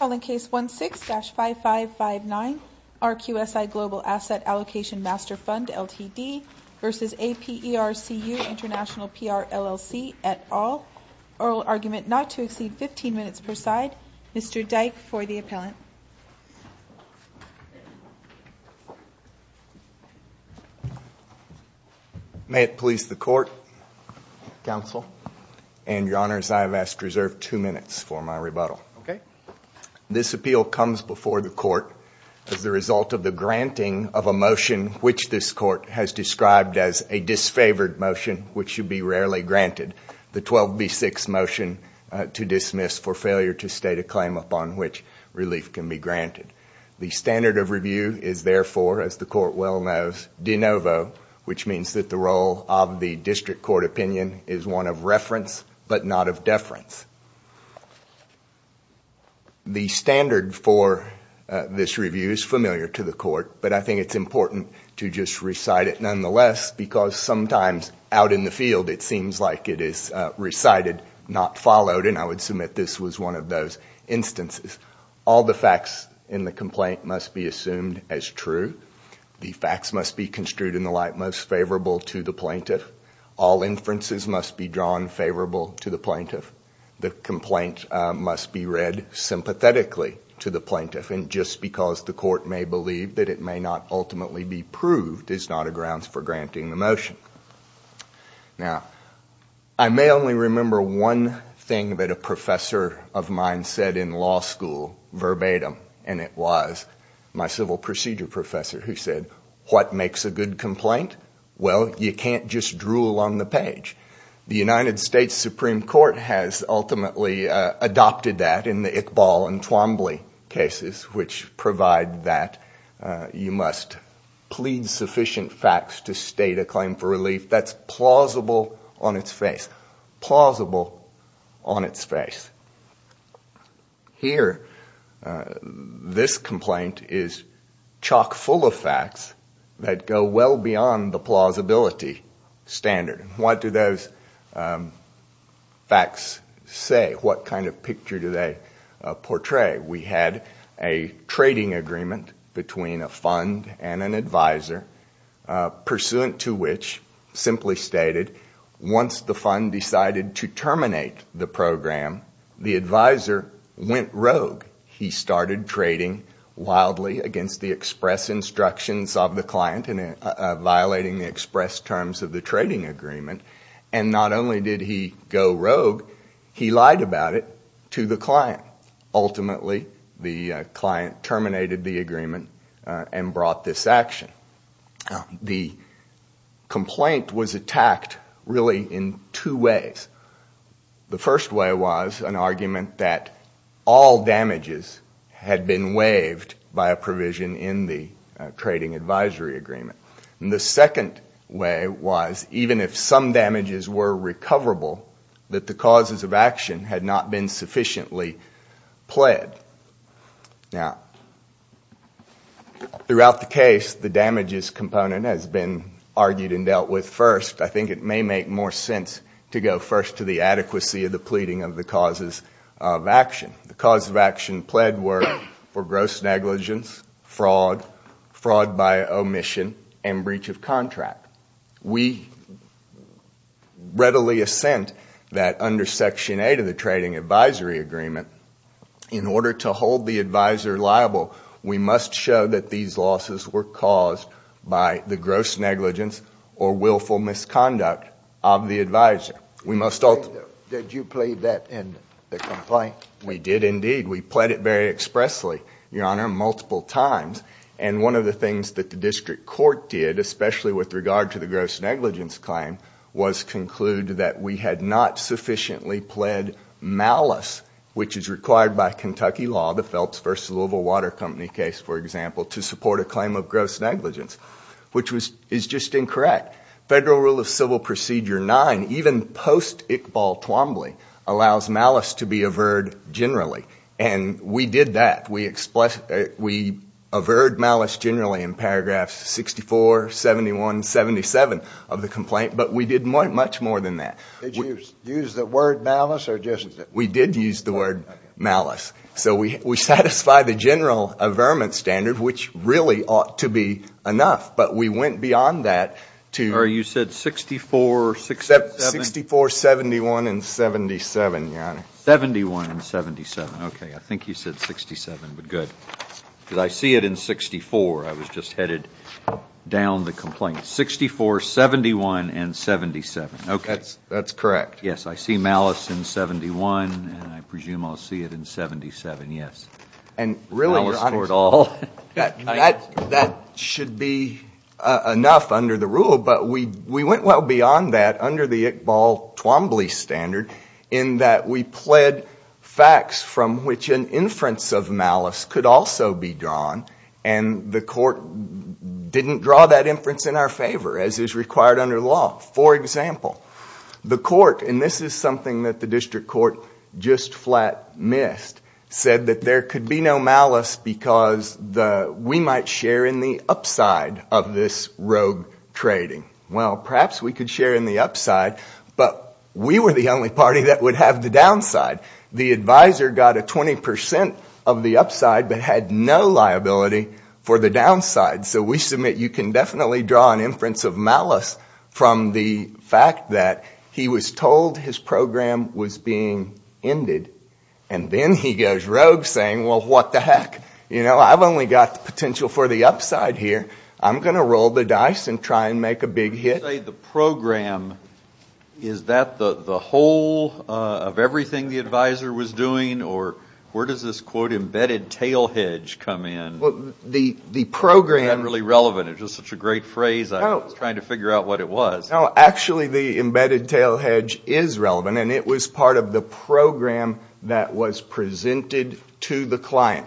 All in Case 16-5559 RQSI Global Asset Allocation Master Fund LTD v. APERCU International PR LLC et al. Oral argument not to exceed 15 minutes per side. Mr. Dyke for the appellant. May it please the court, counsel, and your honors, I have asked to reserve two minutes for my rebuttal. This appeal comes before the court as the result of the granting of a motion which this court has described as a disfavored motion which should be rarely granted, the 12B6 motion to dismiss for failure to state a claim upon which relief can be granted. The standard of review is therefore, as the court well knows, de novo, which means that the role of the district court opinion is one of reference but not of deference. The standard for this review is familiar to the court, but I think it is important to just recite it nonetheless because sometimes out in the field it seems like it is recited not followed and I would submit this was one of those instances. All the facts in the complaint must be assumed as true. The facts must be construed in the light most favorable to the plaintiff. All inferences must be drawn favorable to the plaintiff. The complaint must be read sympathetically to the plaintiff and just because the court may believe that it may not ultimately be proved is not a grounds for granting the motion. Now, I may only remember one thing that a professor of mine said in law school verbatim and it was my civil procedure professor who said, what makes a good complaint? Well, you can't just drool on the page. The United States Supreme Court has ultimately adopted that in the Iqbal and Twombly cases which provide that you must plead sufficient facts to state a claim for relief that is plausible on its face. Here, this complaint is chock full of facts that go well beyond the plausibility standard. What do those facts say? What kind of picture do they portray? We had a trading agreement between a fund and an advisor pursuant to which simply stated once the fund decided to terminate the program, the advisor went rogue. He started trading wildly against the express instructions of the client and violating the express terms of the trading agreement and not only did he go rogue, he lied about it to the client. Ultimately, the client terminated the agreement and brought this action. The complaint was attacked really in two ways. The first way was an argument that all damages had been waived by a provision in the trading advisory agreement. The second way was even if some damages were recoverable, that the causes of action had not been sufficiently pled. Throughout the case, the damages component has been argued and dealt with first. I think it may make more sense to go first to the adequacy of the pleading of the causes of action. The causes of action pled were for gross negligence, fraud, fraud by omission, and breach of contract. We readily assent that under section 8 of the trading advisory agreement, in order to hold the advisor liable, we must show that these losses were caused by the gross negligence or willful misconduct of the advisor. Did you plead that in the complaint? We did indeed. We pled it very expressly, your honor, multiple times and one of the things that the district court did, especially with regard to the gross negligence claim, was conclude that we had not sufficiently pled malice, which is required by Kentucky law, the Phelps versus Louisville Water Company case, for example, to support a claim of gross negligence, which is just incorrect. Federal rule of civil procedure 9, even post-Iqbal Twombly, allows malice to be averred generally, and we did that. We averred malice generally in paragraphs 64, 71, 77 of the complaint, but we did much more than that. Did you use the word malice? We did use the word malice, so we satisfied the general averment standard, which really ought to be enough, but we went beyond that. You said 64, 71, and 77, your honor. 71 and 77, okay. I think you said 67, but good, because I see it in 64. I was just headed down the complaint. 64, 71, and 77. That's correct. Yes, I see malice in 71 and I presume I'll see it in 77, yes. Malice for it all. That should be enough under the rule, but we went well beyond that under the Iqbal Twombly standard, in that we pled facts from which an inference of malice could also be drawn, and the court didn't draw that inference in our favor, as is required under law. For example, the court, and this is something that the court missed, said that there could be no malice because we might share in the upside of this rogue trading. Well, perhaps we could share in the upside, but we were the only party that would have the downside. The advisor got a 20% of the upside, but had no liability for the downside, so we submit you can definitely draw an inference of malice from the fact that he was told his program was being ended, and then he goes rogue, saying, well, what the heck? I've only got the potential for the upside here. I'm going to roll the dice and try and make a big hit. You say the program. Is that the whole of everything the advisor was doing, or where does this, quote, embedded tail hedge come in? Well, the program... Not really relevant. It's just such a great phrase. I was trying to figure out what it was. No, actually, the embedded tail hedge is relevant, and it was part of the program that was presented to the client.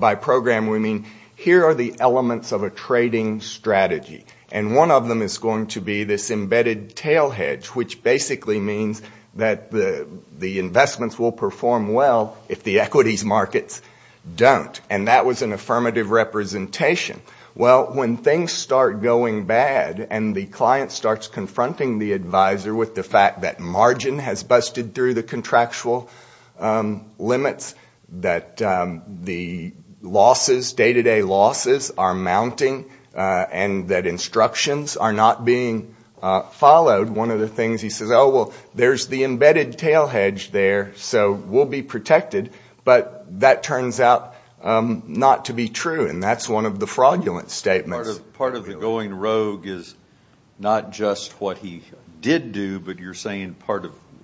By program, we mean here are the elements of a trading strategy, and one of them is going to be this embedded tail hedge, which basically means that the investments will perform well if the equities markets don't, and that was an affirmative representation. Well, when things start going bad, and the client starts confronting the advisor with the fact that margin has busted through the contractual limits, that the losses, day-to-day losses are mounting, and that instructions are not being followed, one of the things he says, oh, well, there's the embedded tail hedge there, so we'll be protected, but that is a fraudulent statement. Part of the going rogue is not just what he did do, but you're saying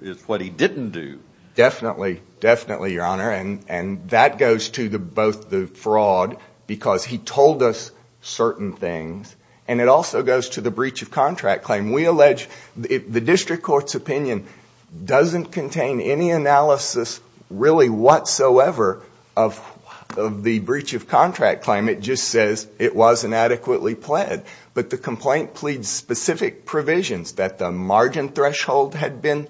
it's what he didn't do. Definitely, definitely, Your Honor, and that goes to both the fraud, because he told us certain things, and it also goes to the breach of contract claim. We allege the district court's opinion doesn't contain any analysis really whatsoever of the breach of contract claim. It just says it was inadequately pled, but the complaint pleads specific provisions that the margin threshold had been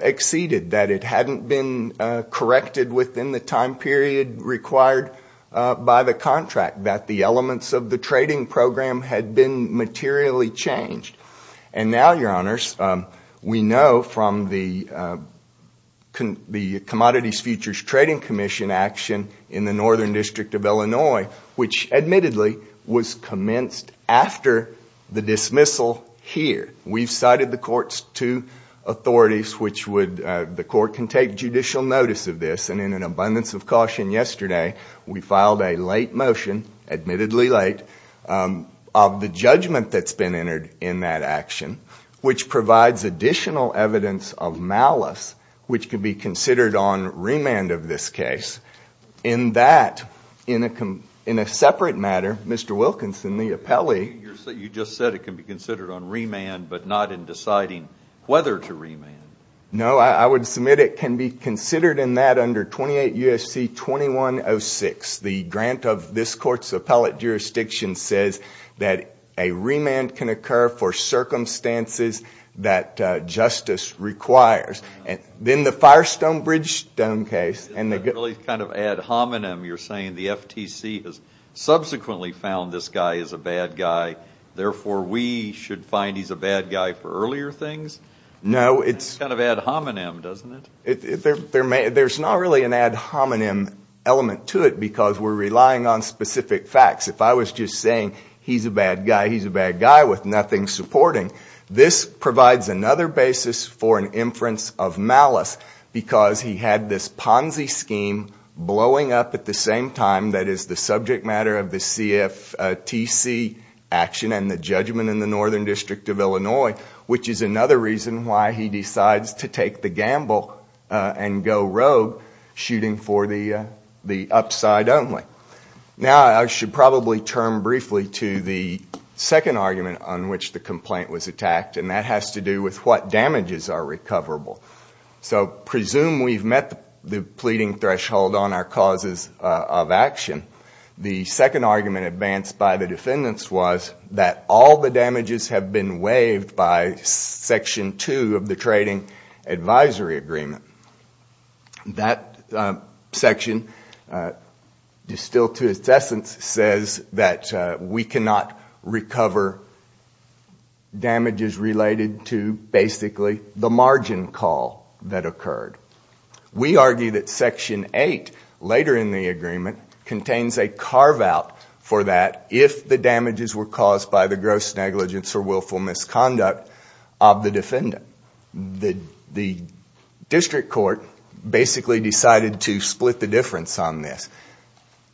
exceeded, that it hadn't been corrected within the time period required by the contract, that the elements of the trading program had been materially changed, and now, Your Honors, we know from the Commodities Futures Trading Commission action in the Northern District of Illinois, which admittedly was commenced after the dismissal here. We've cited the court's two authorities, which would, the court can take judicial notice of this, and in an abundance of caution yesterday, we filed a late motion, admittedly late, of the judgment that's been entered in that action, which provides additional evidence of malice, which could be considered on remand of this case. In that, in a separate matter, Mr. Wilkinson, the appellee... You just said it can be considered on remand, but not in deciding whether to remand. No, I would submit it can be considered in that under 28 U.S.C. 2106. The grant of this court's appellate jurisdiction says that a remand can occur for circumstances that justice requires. Then the Firestone Bridge Stone case... Isn't that really kind of ad hominem? You're saying the FTC has subsequently found this guy is a bad guy, therefore we should find he's a bad guy for earlier things? No, it's... That's kind of ad hominem, doesn't it? There's not really an ad hominem element to it, because we're relying on specific facts. If I was just saying, he's a bad guy, he's a bad guy, with nothing supporting, this provides another basis for an inference of malice, because he had this Ponzi scheme blowing up at the same time that is the subject matter of the CFTC action and the judgment in the Northern District of Illinois, which is another reason why he decides to take the gamble and go rogue, shooting for the upside only. Now I should probably turn briefly to the second argument on which the complaint was with what damages are recoverable. So presume we've met the pleading threshold on our causes of action. The second argument advanced by the defendants was that all the damages have been waived by Section 2 of the Trading Advisory Agreement. That section, distilled to its basically the margin call that occurred. We argue that Section 8, later in the agreement, contains a carve out for that if the damages were caused by the gross negligence or willful misconduct of the defendant. The district court basically decided to split the difference on this.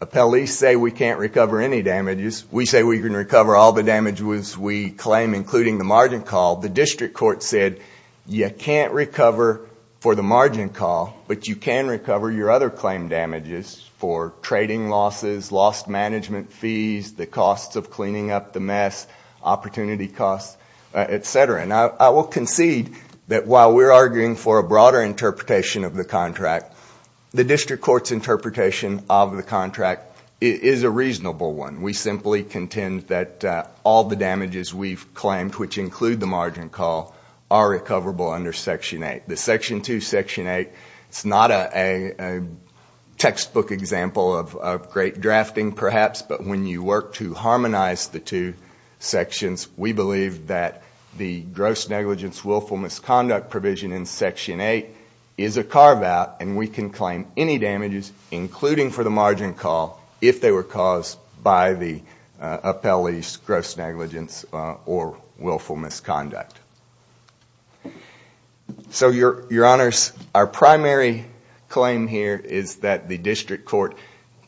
Appellees say we can't recover any damages. We say we can recover all the damages we claim, including the margin call. The district court said you can't recover for the margin call, but you can recover your other claim damages for trading losses, lost management fees, the costs of cleaning up the mess, opportunity costs, etc. I will concede that while we're arguing for a broader interpretation of the contract, the district court's interpretation of the contract is a reasonable one. We simply contend that all the damages we've claimed, which include the margin call, are recoverable under Section 8. The Section 2, Section 8 is not a textbook example of great drafting, perhaps, but when you work to harmonize the two sections, we believe that the gross negligence, willful misconduct provision in Section 8 is a carve out and we can claim any damages, including for the margin call, if they were caused by the appellee's gross negligence or willful misconduct. Our primary claim here is that the district court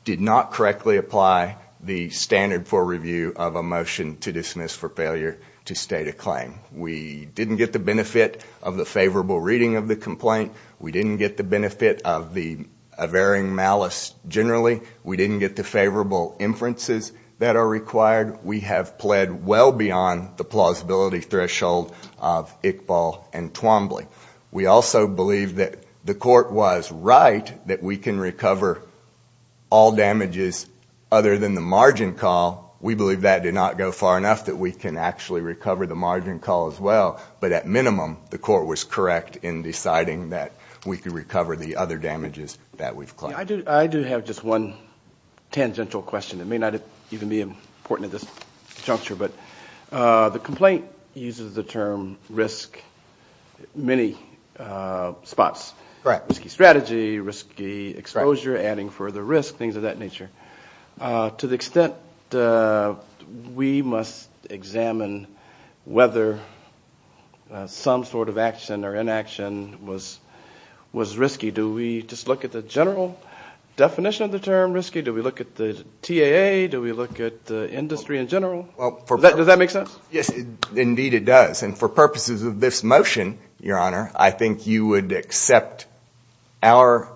did not correctly apply the standard for review of a motion to dismiss for failure to state a claim. We didn't get the benefit of the favorable reading of the complaint. We didn't get the benefit of a varying malice generally. We didn't get the favorable inferences that are required. We have pled well beyond the plausibility threshold of Iqbal and Twombly. We also believe that the court was right that we can recover all damages other than the margin call. We believe that did not go far enough that we can actually recover the margin call as well, but at minimum, the court was correct in deciding that we could recover the other damages that we've claimed. I do have just one tangential question. It may not even be important at this juncture, but the complaint uses the term risk many spots. Risky strategy, risky exposure, adding further risk, things of that nature. To the extent we must examine whether some sort of definition of the term risky, do we look at the TAA, do we look at the industry in general? Does that make sense? Yes, indeed it does. For purposes of this motion, your honor, I think you would accept our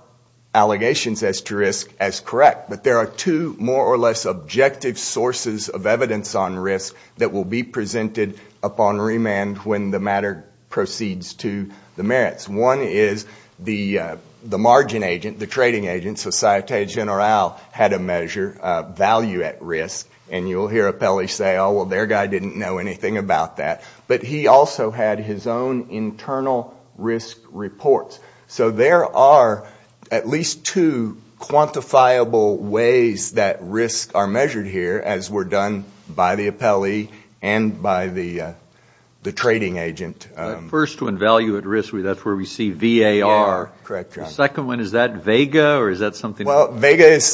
allegations as to risk as correct, but there are two more or less objective sources of evidence on risk that will be presented upon remand when the matter proceeds to the court. The first one, value at risk, that's where we see VAR. The second one, is that VEGA or is that something else? VEGA is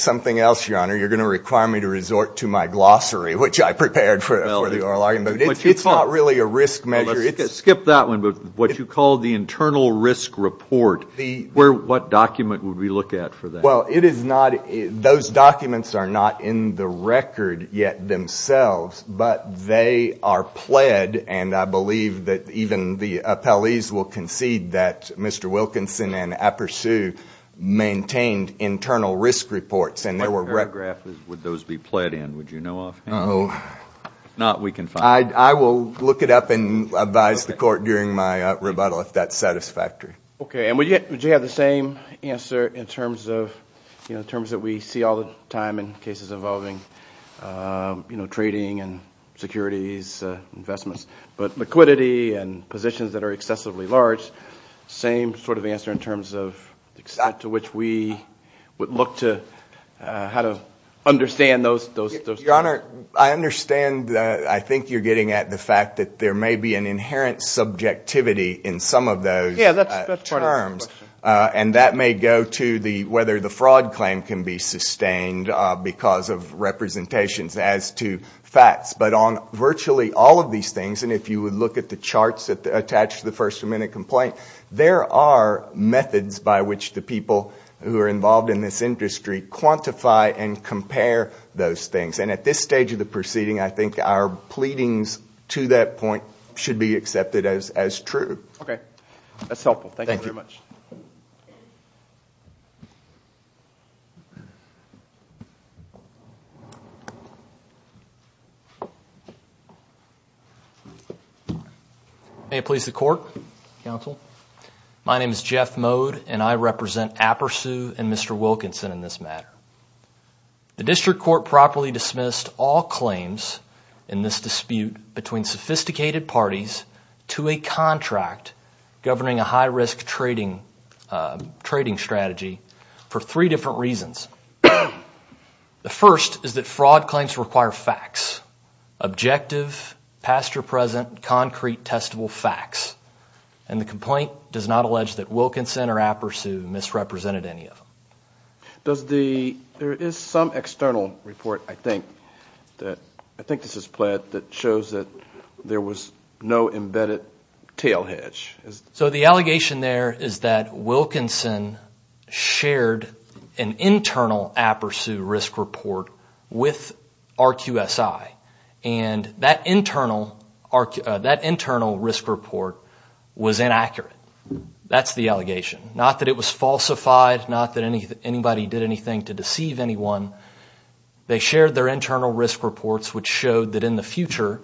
something else, your honor. You're going to require me to resort to my glossary, which I prepared for the oral argument. It's not really a risk measure. Let's skip that one, but what you call the internal risk report, what document would we look at for that? Those documents are not in the record yet themselves, but they are pled and I believe that even the appellees will concede that Mr. Wilkinson and Appersu maintained internal risk reports. My paragraph is, would those be pled in, would you know of? If not, we can find out. I will look it up and advise the court during my rebuttal if that's satisfactory. Would you have the same answer in terms that we see all the time in cases involving trading and securities investments, but liquidity and positions that are excessively large, same sort of answer in terms of to which we would look to how to understand those. I understand, I think you're getting at the fact that there may be an inherent subjectivity in some of those terms and that may go to whether the fraud claim can be sustained because of representations as to facts, but on virtually all of these things, and if you would look at the charts attached to the first amendment complaint, there are methods by which the people who are involved in this industry quantify and compare those things. At this stage of the proceeding, I think our pleadings to that point should be accepted as true. Okay, that's helpful. Thank you very much. May it please the court, counsel. My name is Jeff Mode and I represent Appersu and Mr. Wilkinson in this matter. The district court properly dismissed all claims in this dispute between sophisticated parties to a contract governing a high-risk trading strategy for three different reasons. The first is that fraud claims require facts, objective, pasture-present, concrete, testable facts, and the complaint does not allege that Wilkinson or Appersu misrepresented any of them. There is some external report, I think, that shows that there was no embedded tail hedge. The allegation there is that Wilkinson shared an internal Appersu risk report with RQSI and that internal risk report was inaccurate. That's the allegation. Not that it was falsified. Not that anybody did anything to deceive anyone. They shared their internal risk reports which showed that in the future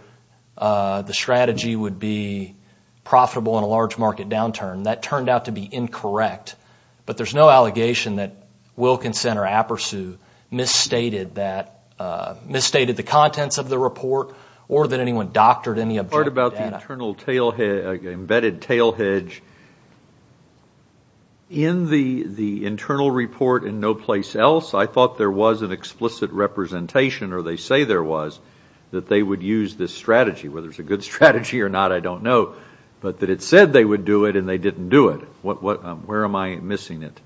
the strategy would be profitable in a large market downturn. That turned out to be incorrect. But there's no allegation that Wilkinson or Appersu misstated the contents of the report or that anyone doctored any objective data. The part about the embedded tail hedge, in the internal report and no place else, I thought there was an explicit representation, or they say there was, that they would use this strategy. Whether it's a good strategy or not, I don't know. But that it said they would do it and they didn't do it. Where am I missing it?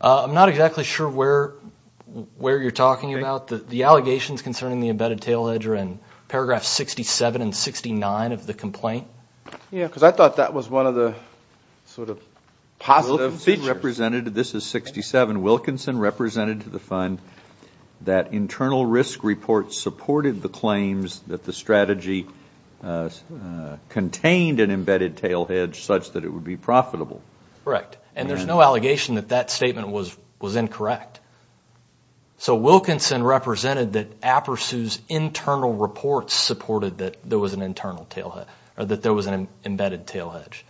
I'm not exactly sure where you're talking about. The allegations concerning the embedded tail hedge are in paragraph 67 and 69 of the complaint. Yeah, because I thought that was one of the sort of positive features. This is 67. Wilkinson represented to the fund that internal risk reports supported the claims that the strategy contained an embedded tail hedge such that it would be profitable. Correct. And there's no allegation that that statement was incorrect. So Wilkinson represented that Appersu's internal reports supported that there was an embedded tail hedge.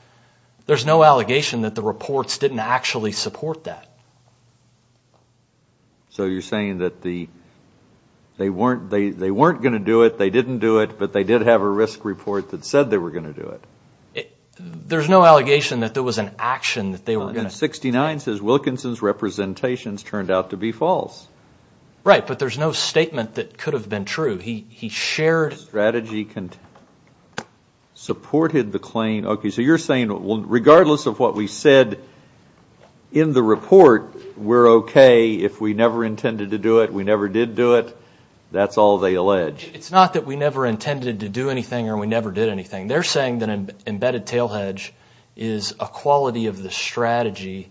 There's no allegation that the reports didn't actually support that. So you're saying that they weren't going to do it, they didn't do it, but they did have a risk report that said they were going to do it. There's no allegation that there was an action that they were going to do it. And 69 says Wilkinson's representations turned out to be false. Right, but there's no statement that could have been true. He shared... ...that the strategy supported the claim. Okay, so you're saying regardless of what we said in the report, we're okay if we never intended to do it, we never did do it, that's all they allege. It's not that we never intended to do anything or we never did anything. They're saying that embedded tail hedge is a quality of the strategy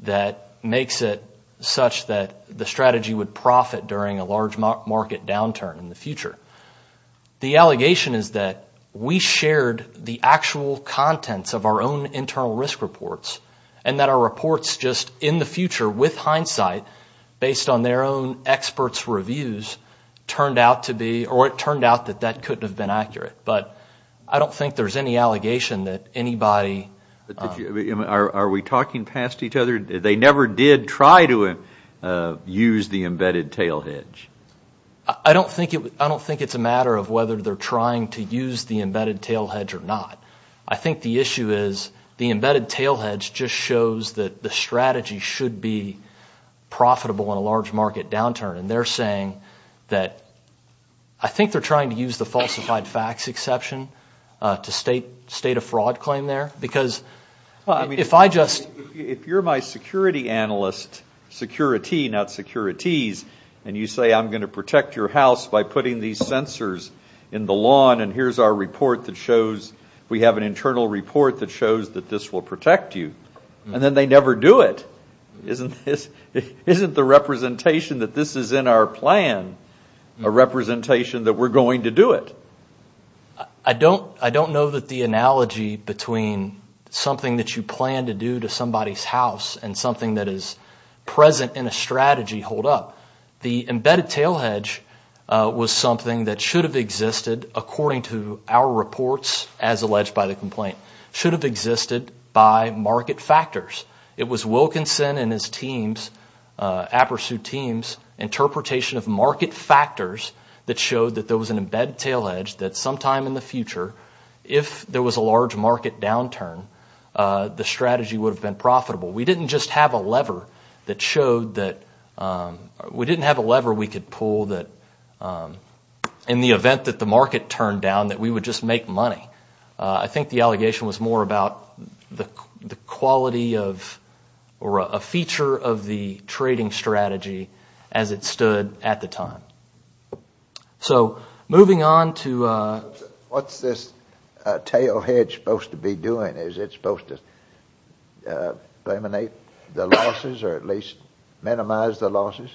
that makes it such that the strategy would The allegation is that we shared the actual contents of our own internal risk reports and that our reports just in the future with hindsight, based on their own experts' reviews, turned out to be, or it turned out that that couldn't have been accurate. But I don't think there's any allegation that anybody... Are we talking past each other? They never did try to use the embedded tail hedge. I don't think it's a matter of whether they're trying to use the embedded tail hedge or not. I think the issue is the embedded tail hedge just shows that the strategy should be profitable in a large market downturn. And they're saying that... I think they're trying to use the falsified facts exception to state a fraud claim there because if I just... If you're my security analyst, security, not securities, and you say I'm going to protect your house by putting these sensors in the lawn and here's our report that shows we have an internal report that shows that this will protect you, and then they never do it. Isn't the representation that this is in our plan a representation that we're going to do it? I don't know that the analogy between something that you plan to do to somebody's house and something that is present in a strategy hold up. The embedded tail hedge was something that should have existed according to our reports as alleged by the complaint, should have existed by market factors. It was Wilkinson and his team's, Appersu team's, interpretation of market factors that showed that there was an embedded tail hedge that sometime in the future, if there was a large market downturn, the strategy would have been profitable. We didn't just have a lever that showed that... We didn't have a lever we could pull that in the event that the market turned down that we would just make money. I think the allegation was more about the quality of or a feature of the trading strategy as it stood at the time. So, moving on to... What's this tail hedge supposed to be doing? Is it supposed to eliminate the losses or at least minimize the losses?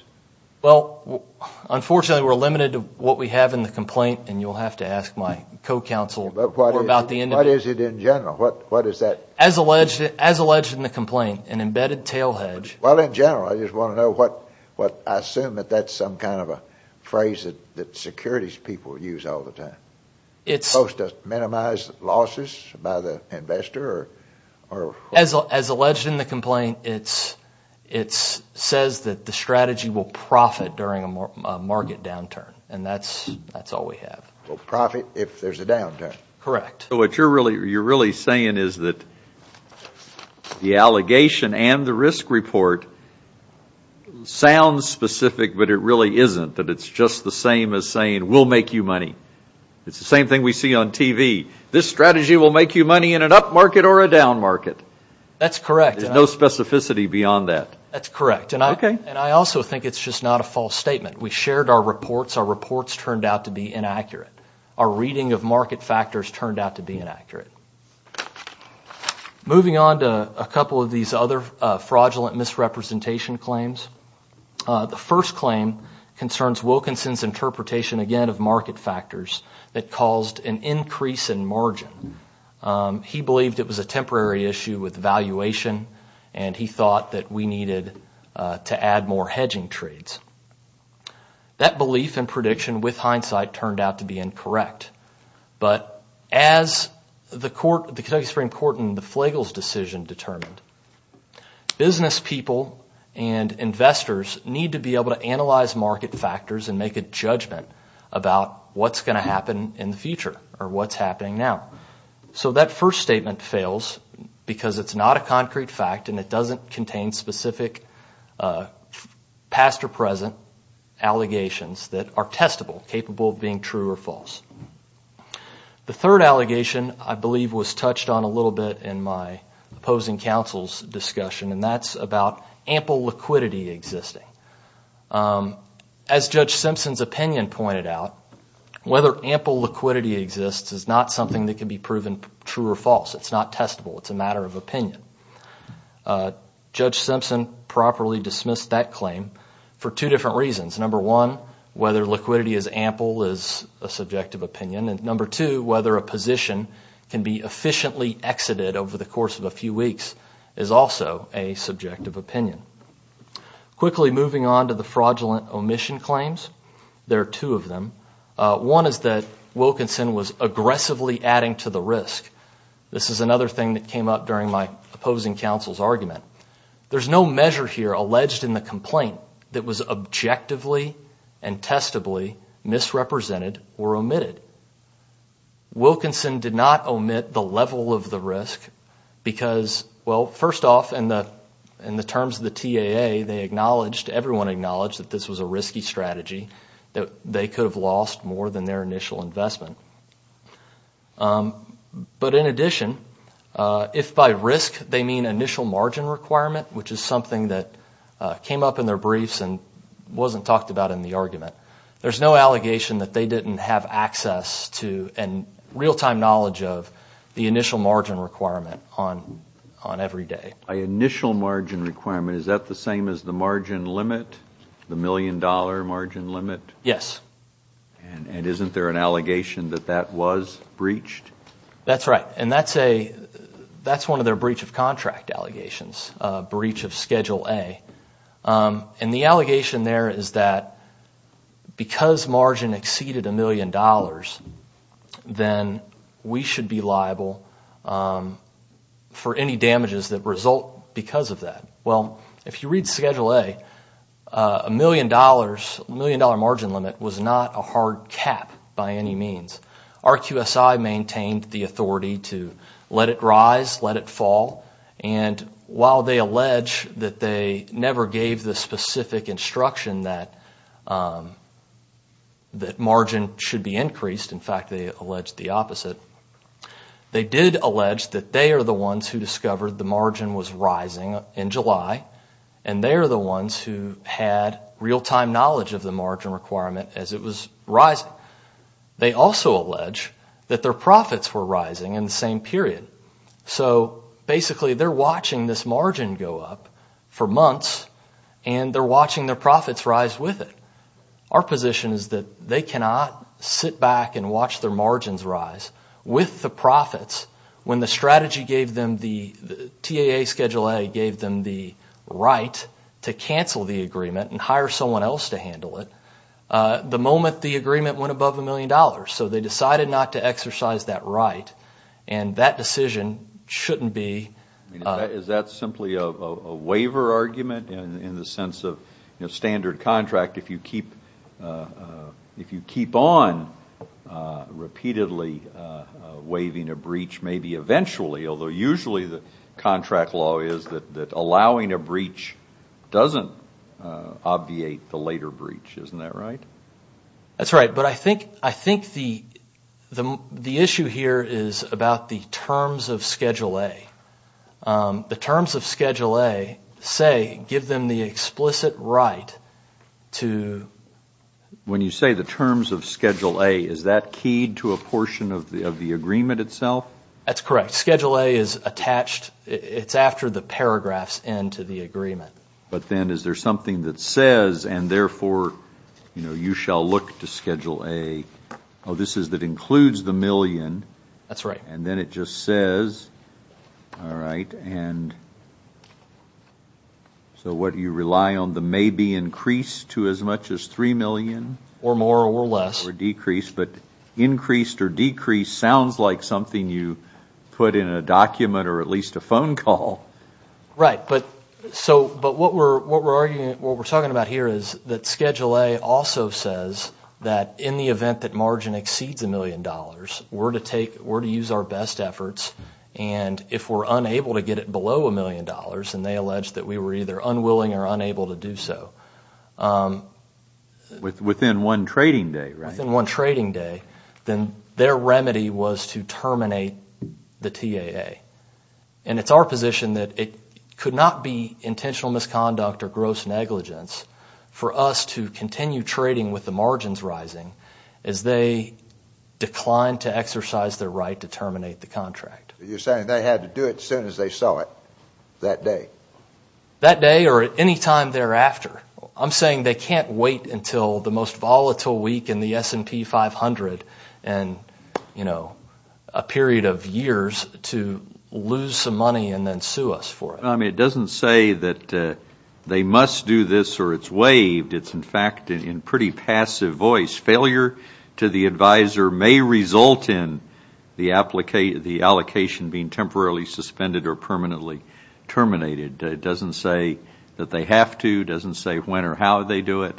Well, unfortunately we're limited to what we have in the complaint and you'll have to ask my co-counsel about the individual... What is it in general? What is that? As alleged in the complaint, an embedded tail hedge... Well, in general, I just want to know what... I assume that that's some kind of a phrase that securities people use all the time. It's supposed to minimize losses by the investor or... As alleged in the complaint, it says that the strategy will profit during a market downturn and that's all we have. Will profit if there's a downturn. Correct. So, what you're really saying is that the allegation and the risk report sounds specific but it really isn't. That it's just the same as saying we'll make you money. It's the same thing we see on TV. This strategy will make you money in an up market or a down market. That's correct. There's no specificity beyond that. That's correct. Okay. And I also think it's just not a false statement. We shared our reports. Our reports turned out to be inaccurate. Our reading of market factors turned out to be inaccurate. Moving on to a couple of these other fraudulent misrepresentation claims. The first claim concerns Wilkinson's interpretation, again, of market factors that caused an increase in margin. He believed it was a temporary issue with valuation and he thought that we needed to add more hedging trades. That belief and prediction, with hindsight, turned out to be incorrect. But as the Kentucky Supreme Court in the Flagle's decision determined, business people and investors need to be able to analyze market factors and make a judgment about what's going to happen in the future or what's happening now. So that first statement fails because it's not a concrete fact and it doesn't contain specific past or present allegations that are testable, capable of being true or false. The third allegation, I believe, was touched on a little bit in my opposing counsel's discussion and that's about ample liquidity existing. As Judge Simpson's opinion pointed out, whether ample liquidity exists is not something that can be proven true or false. It's not testable. It's a matter of opinion. Judge Simpson properly dismissed that claim for two different reasons. Number one, whether liquidity is ample is a subjective opinion. Number two, whether a position can be efficiently exited over the course of a few weeks is also a subjective opinion. Quickly moving on to the fraudulent omission claims, there are two of them. One is that Wilkinson was aggressively adding to the risk. This is another thing that came up during my opposing counsel's argument. There's no measure here alleged in the complaint that was objectively and testably misrepresented or omitted. Wilkinson did not omit the level of the risk because, well, first off, in the terms of the TAA, they acknowledged, everyone acknowledged, that this was a risky strategy, that they could have lost more than their initial investment. But in addition, if by risk they mean initial margin requirement, which is something that came up in their briefs and wasn't talked about in the argument, there's no allegation that they didn't have access to and real-time knowledge of the initial margin requirement on every day. By initial margin requirement, is that the same as the margin limit, the million-dollar margin limit? Yes. And isn't there an allegation that that was breached? That's right. And that's one of their breach of contract allegations, breach of Schedule A. And the allegation there is that because margin exceeded a million dollars, then we should be liable for any damages that result because of that. Well, if you read Schedule A, a million-dollar margin limit was not a hard cap by any means. RQSI maintained the authority to let it rise, let it fall, and while they allege that they never gave the specific instruction that margin should be increased, in fact, they allege the opposite, they did allege that they are the ones who discovered the margin was rising in July, and they are the ones who had real-time knowledge of the margin requirement as it was rising. They also allege that their profits were rising in the same period. So, basically, they're watching this margin go up for months, and they're watching their profits rise with it. Our position is that they cannot sit back and watch their margins rise with the profits when the strategy gave them, the TAA Schedule A gave them the right to cancel the agreement and hire someone else to handle it, the moment the agreement went above a million dollars. So they decided not to exercise that right, and that decision shouldn't be... Is that simply a waiver argument in the sense of standard contract? In fact, if you keep on repeatedly waiving a breach, maybe eventually, although usually the contract law is that allowing a breach doesn't obviate the later breach. Isn't that right? That's right, but I think the issue here is about the terms of Schedule A. The terms of Schedule A say, give them the explicit right to... When you say the terms of Schedule A, is that keyed to a portion of the agreement itself? That's correct. Schedule A is attached, it's after the paragraphs end to the agreement. But then is there something that says, and therefore you shall look to Schedule A, oh, this is that includes the million. That's right. And then it just says, all right, and so what do you rely on? The maybe increase to as much as three million? Or more or less. Or decrease, but increased or decreased sounds like something you put in a document or at least a phone call. Right, but what we're talking about here is that Schedule A also says that in the event that margin exceeds a million dollars, we're to use our best efforts. And if we're unable to get it below a million dollars, and they allege that we were either unwilling or unable to do so... Within one trading day, right? Within one trading day, then their remedy was to terminate the TAA. And it's our position that it could not be intentional misconduct or gross negligence for us to continue trading with the margins rising as they decline to exercise their right to terminate the contract. You're saying they had to do it as soon as they saw it that day? That day or any time thereafter. I'm saying they can't wait until the most volatile week in the S&P 500 and, you know, a period of years to lose some money and then sue us for it. I mean, it doesn't say that they must do this or it's waived. It's, in fact, in pretty passive voice. Failure to the advisor may result in the allocation being temporarily suspended or permanently terminated. It doesn't say that they have to. It doesn't say when or how they do it.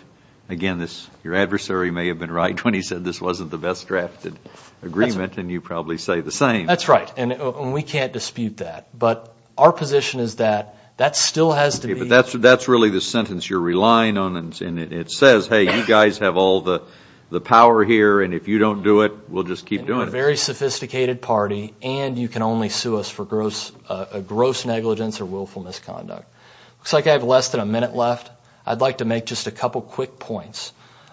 Again, your adversary may have been right when he said this wasn't the best drafted agreement, and you probably say the same. That's right, and we can't dispute that. But our position is that that still has to be. Okay, but that's really the sentence you're relying on, and it says, hey, you guys have all the power here, and if you don't do it, we'll just keep doing it. We're a very sophisticated party, and you can only sue us for gross negligence or willful misconduct. Looks like I have less than a minute left. I'd like to make just a couple quick points.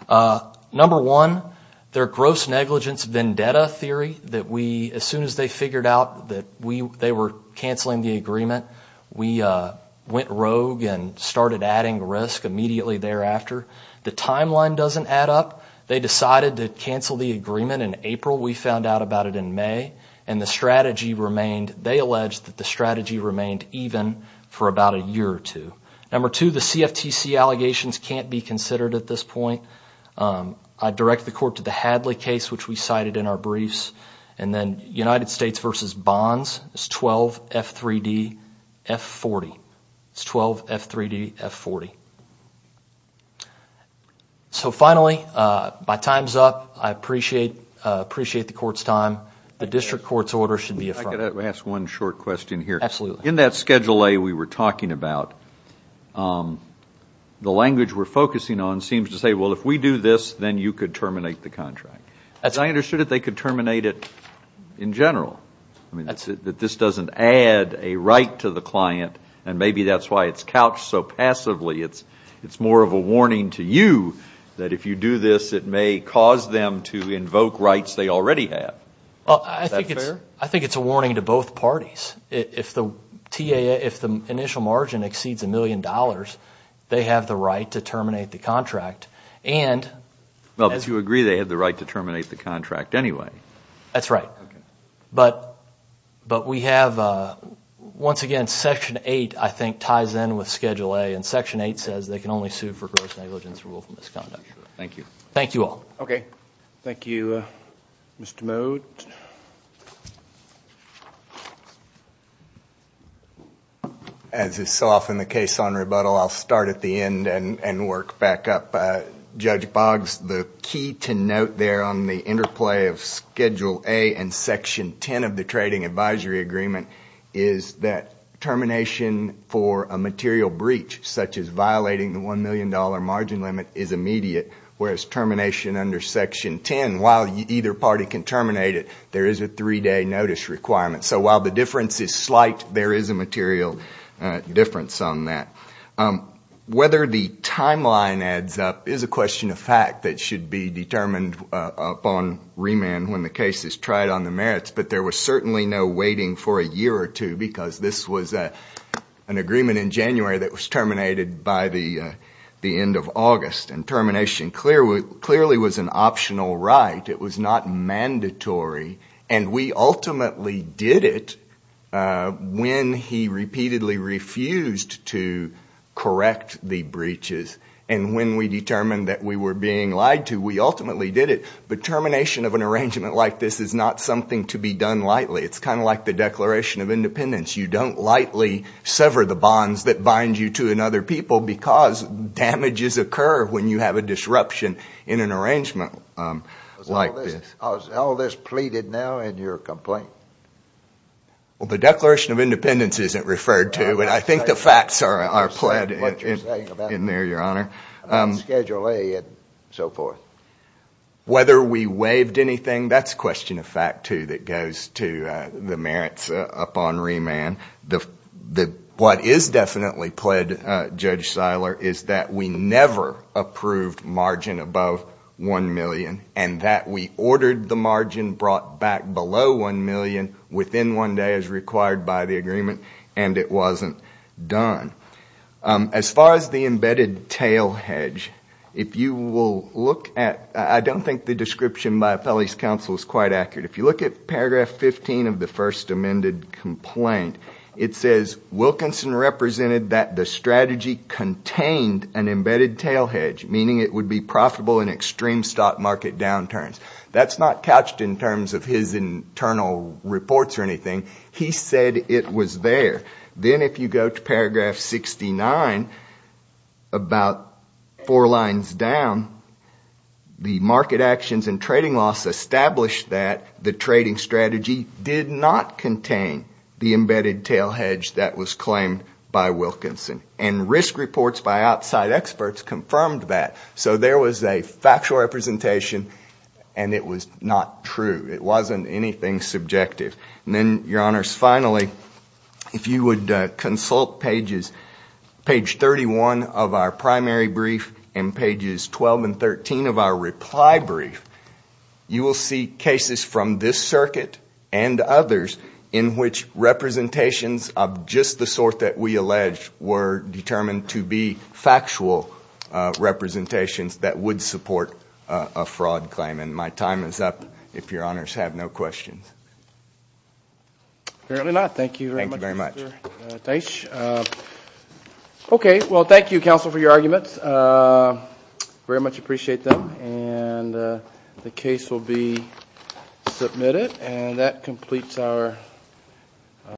Number one, their gross negligence vendetta theory that we, as soon as they figured out that they were canceling the agreement, we went rogue and started adding risk immediately thereafter. The timeline doesn't add up. They decided to cancel the agreement in April. We found out about it in May, and the strategy remained. They alleged that the strategy remained even for about a year or two. Number two, the CFTC allegations can't be considered at this point. I'd direct the court to the Hadley case, which we cited in our briefs, and then United States v. Bonds is 12F3DF40. It's 12F3DF40. So finally, my time's up. I appreciate the court's time. The district court's order should be affirmed. I've got to ask one short question here. Absolutely. In that Schedule A we were talking about, the language we're focusing on seems to say, well, if we do this, then you could terminate the contract. As I understood it, they could terminate it in general. That this doesn't add a right to the client, and maybe that's why it's couched so passively. It's more of a warning to you that if you do this, it may cause them to invoke rights they already have. Is that fair? I think it's a warning to both parties. If the initial margin exceeds a million dollars, they have the right to terminate the contract. Well, if you agree, they have the right to terminate the contract anyway. That's right. But we have, once again, Section 8, I think, ties in with Schedule A, and Section 8 says they can only sue for gross negligence or willful misconduct. Thank you. Thank you all. Okay. Thank you, Mr. Moat. As is so often the case on rebuttal, I'll start at the end and work back up. Judge Boggs, the key to note there on the interplay of Schedule A and Section 10 of the Trading Advisory Agreement is that termination for a material breach, such as violating the $1 million margin limit, is immediate, whereas termination under Section 10, while either party can terminate it, there is a three-day notice requirement. So while the difference is slight, there is a material difference on that. Whether the timeline adds up is a question of fact that should be determined upon remand when the case is tried on the merits, but there was certainly no waiting for a year or two because this was an agreement in January that was terminated by the end of August, and termination clearly was an optional right. It was not mandatory. And we ultimately did it when he repeatedly refused to correct the breaches, and when we determined that we were being lied to, we ultimately did it. But termination of an arrangement like this is not something to be done lightly. It's kind of like the Declaration of Independence. You don't lightly sever the bonds that bind you to another people because damages occur when you have a disruption in an arrangement like this. Is all this pleaded now in your complaint? Well, the Declaration of Independence isn't referred to, but I think the facts are pled in there, Your Honor. Schedule A and so forth. Whether we waived anything, that's a question of fact, too, that goes to the merits upon remand. What is definitely pled, Judge Seiler, is that we never approved margin above $1 million and that we ordered the margin brought back below $1 million within one day as required by the agreement, and it wasn't done. As far as the embedded tail hedge, I don't think the description by Appellee's Counsel is quite accurate. If you look at paragraph 15 of the first amended complaint, it says, Wilkinson represented that the strategy contained an embedded tail hedge, meaning it would be profitable in extreme stock market downturns. That's not couched in terms of his internal reports or anything. He said it was there. Then if you go to paragraph 69, about four lines down, the market actions and trading loss established that the trading strategy did not contain the embedded tail hedge that was claimed by Wilkinson. Risk reports by outside experts confirmed that. So there was a factual representation and it was not true. It wasn't anything subjective. Then, Your Honors, finally, if you would consult page 31 of our primary brief and pages 12 and 13 of our reply brief, you will see cases from this circuit and others in which representations of just the sort that we allege were determined to be factual representations that would support a fraud claim. And my time is up, if Your Honors have no questions. Apparently not. Thank you very much, Mr. Teich. Okay. Well, thank you, Counsel, for your arguments. I very much appreciate them. And the case will be submitted. And that completes our.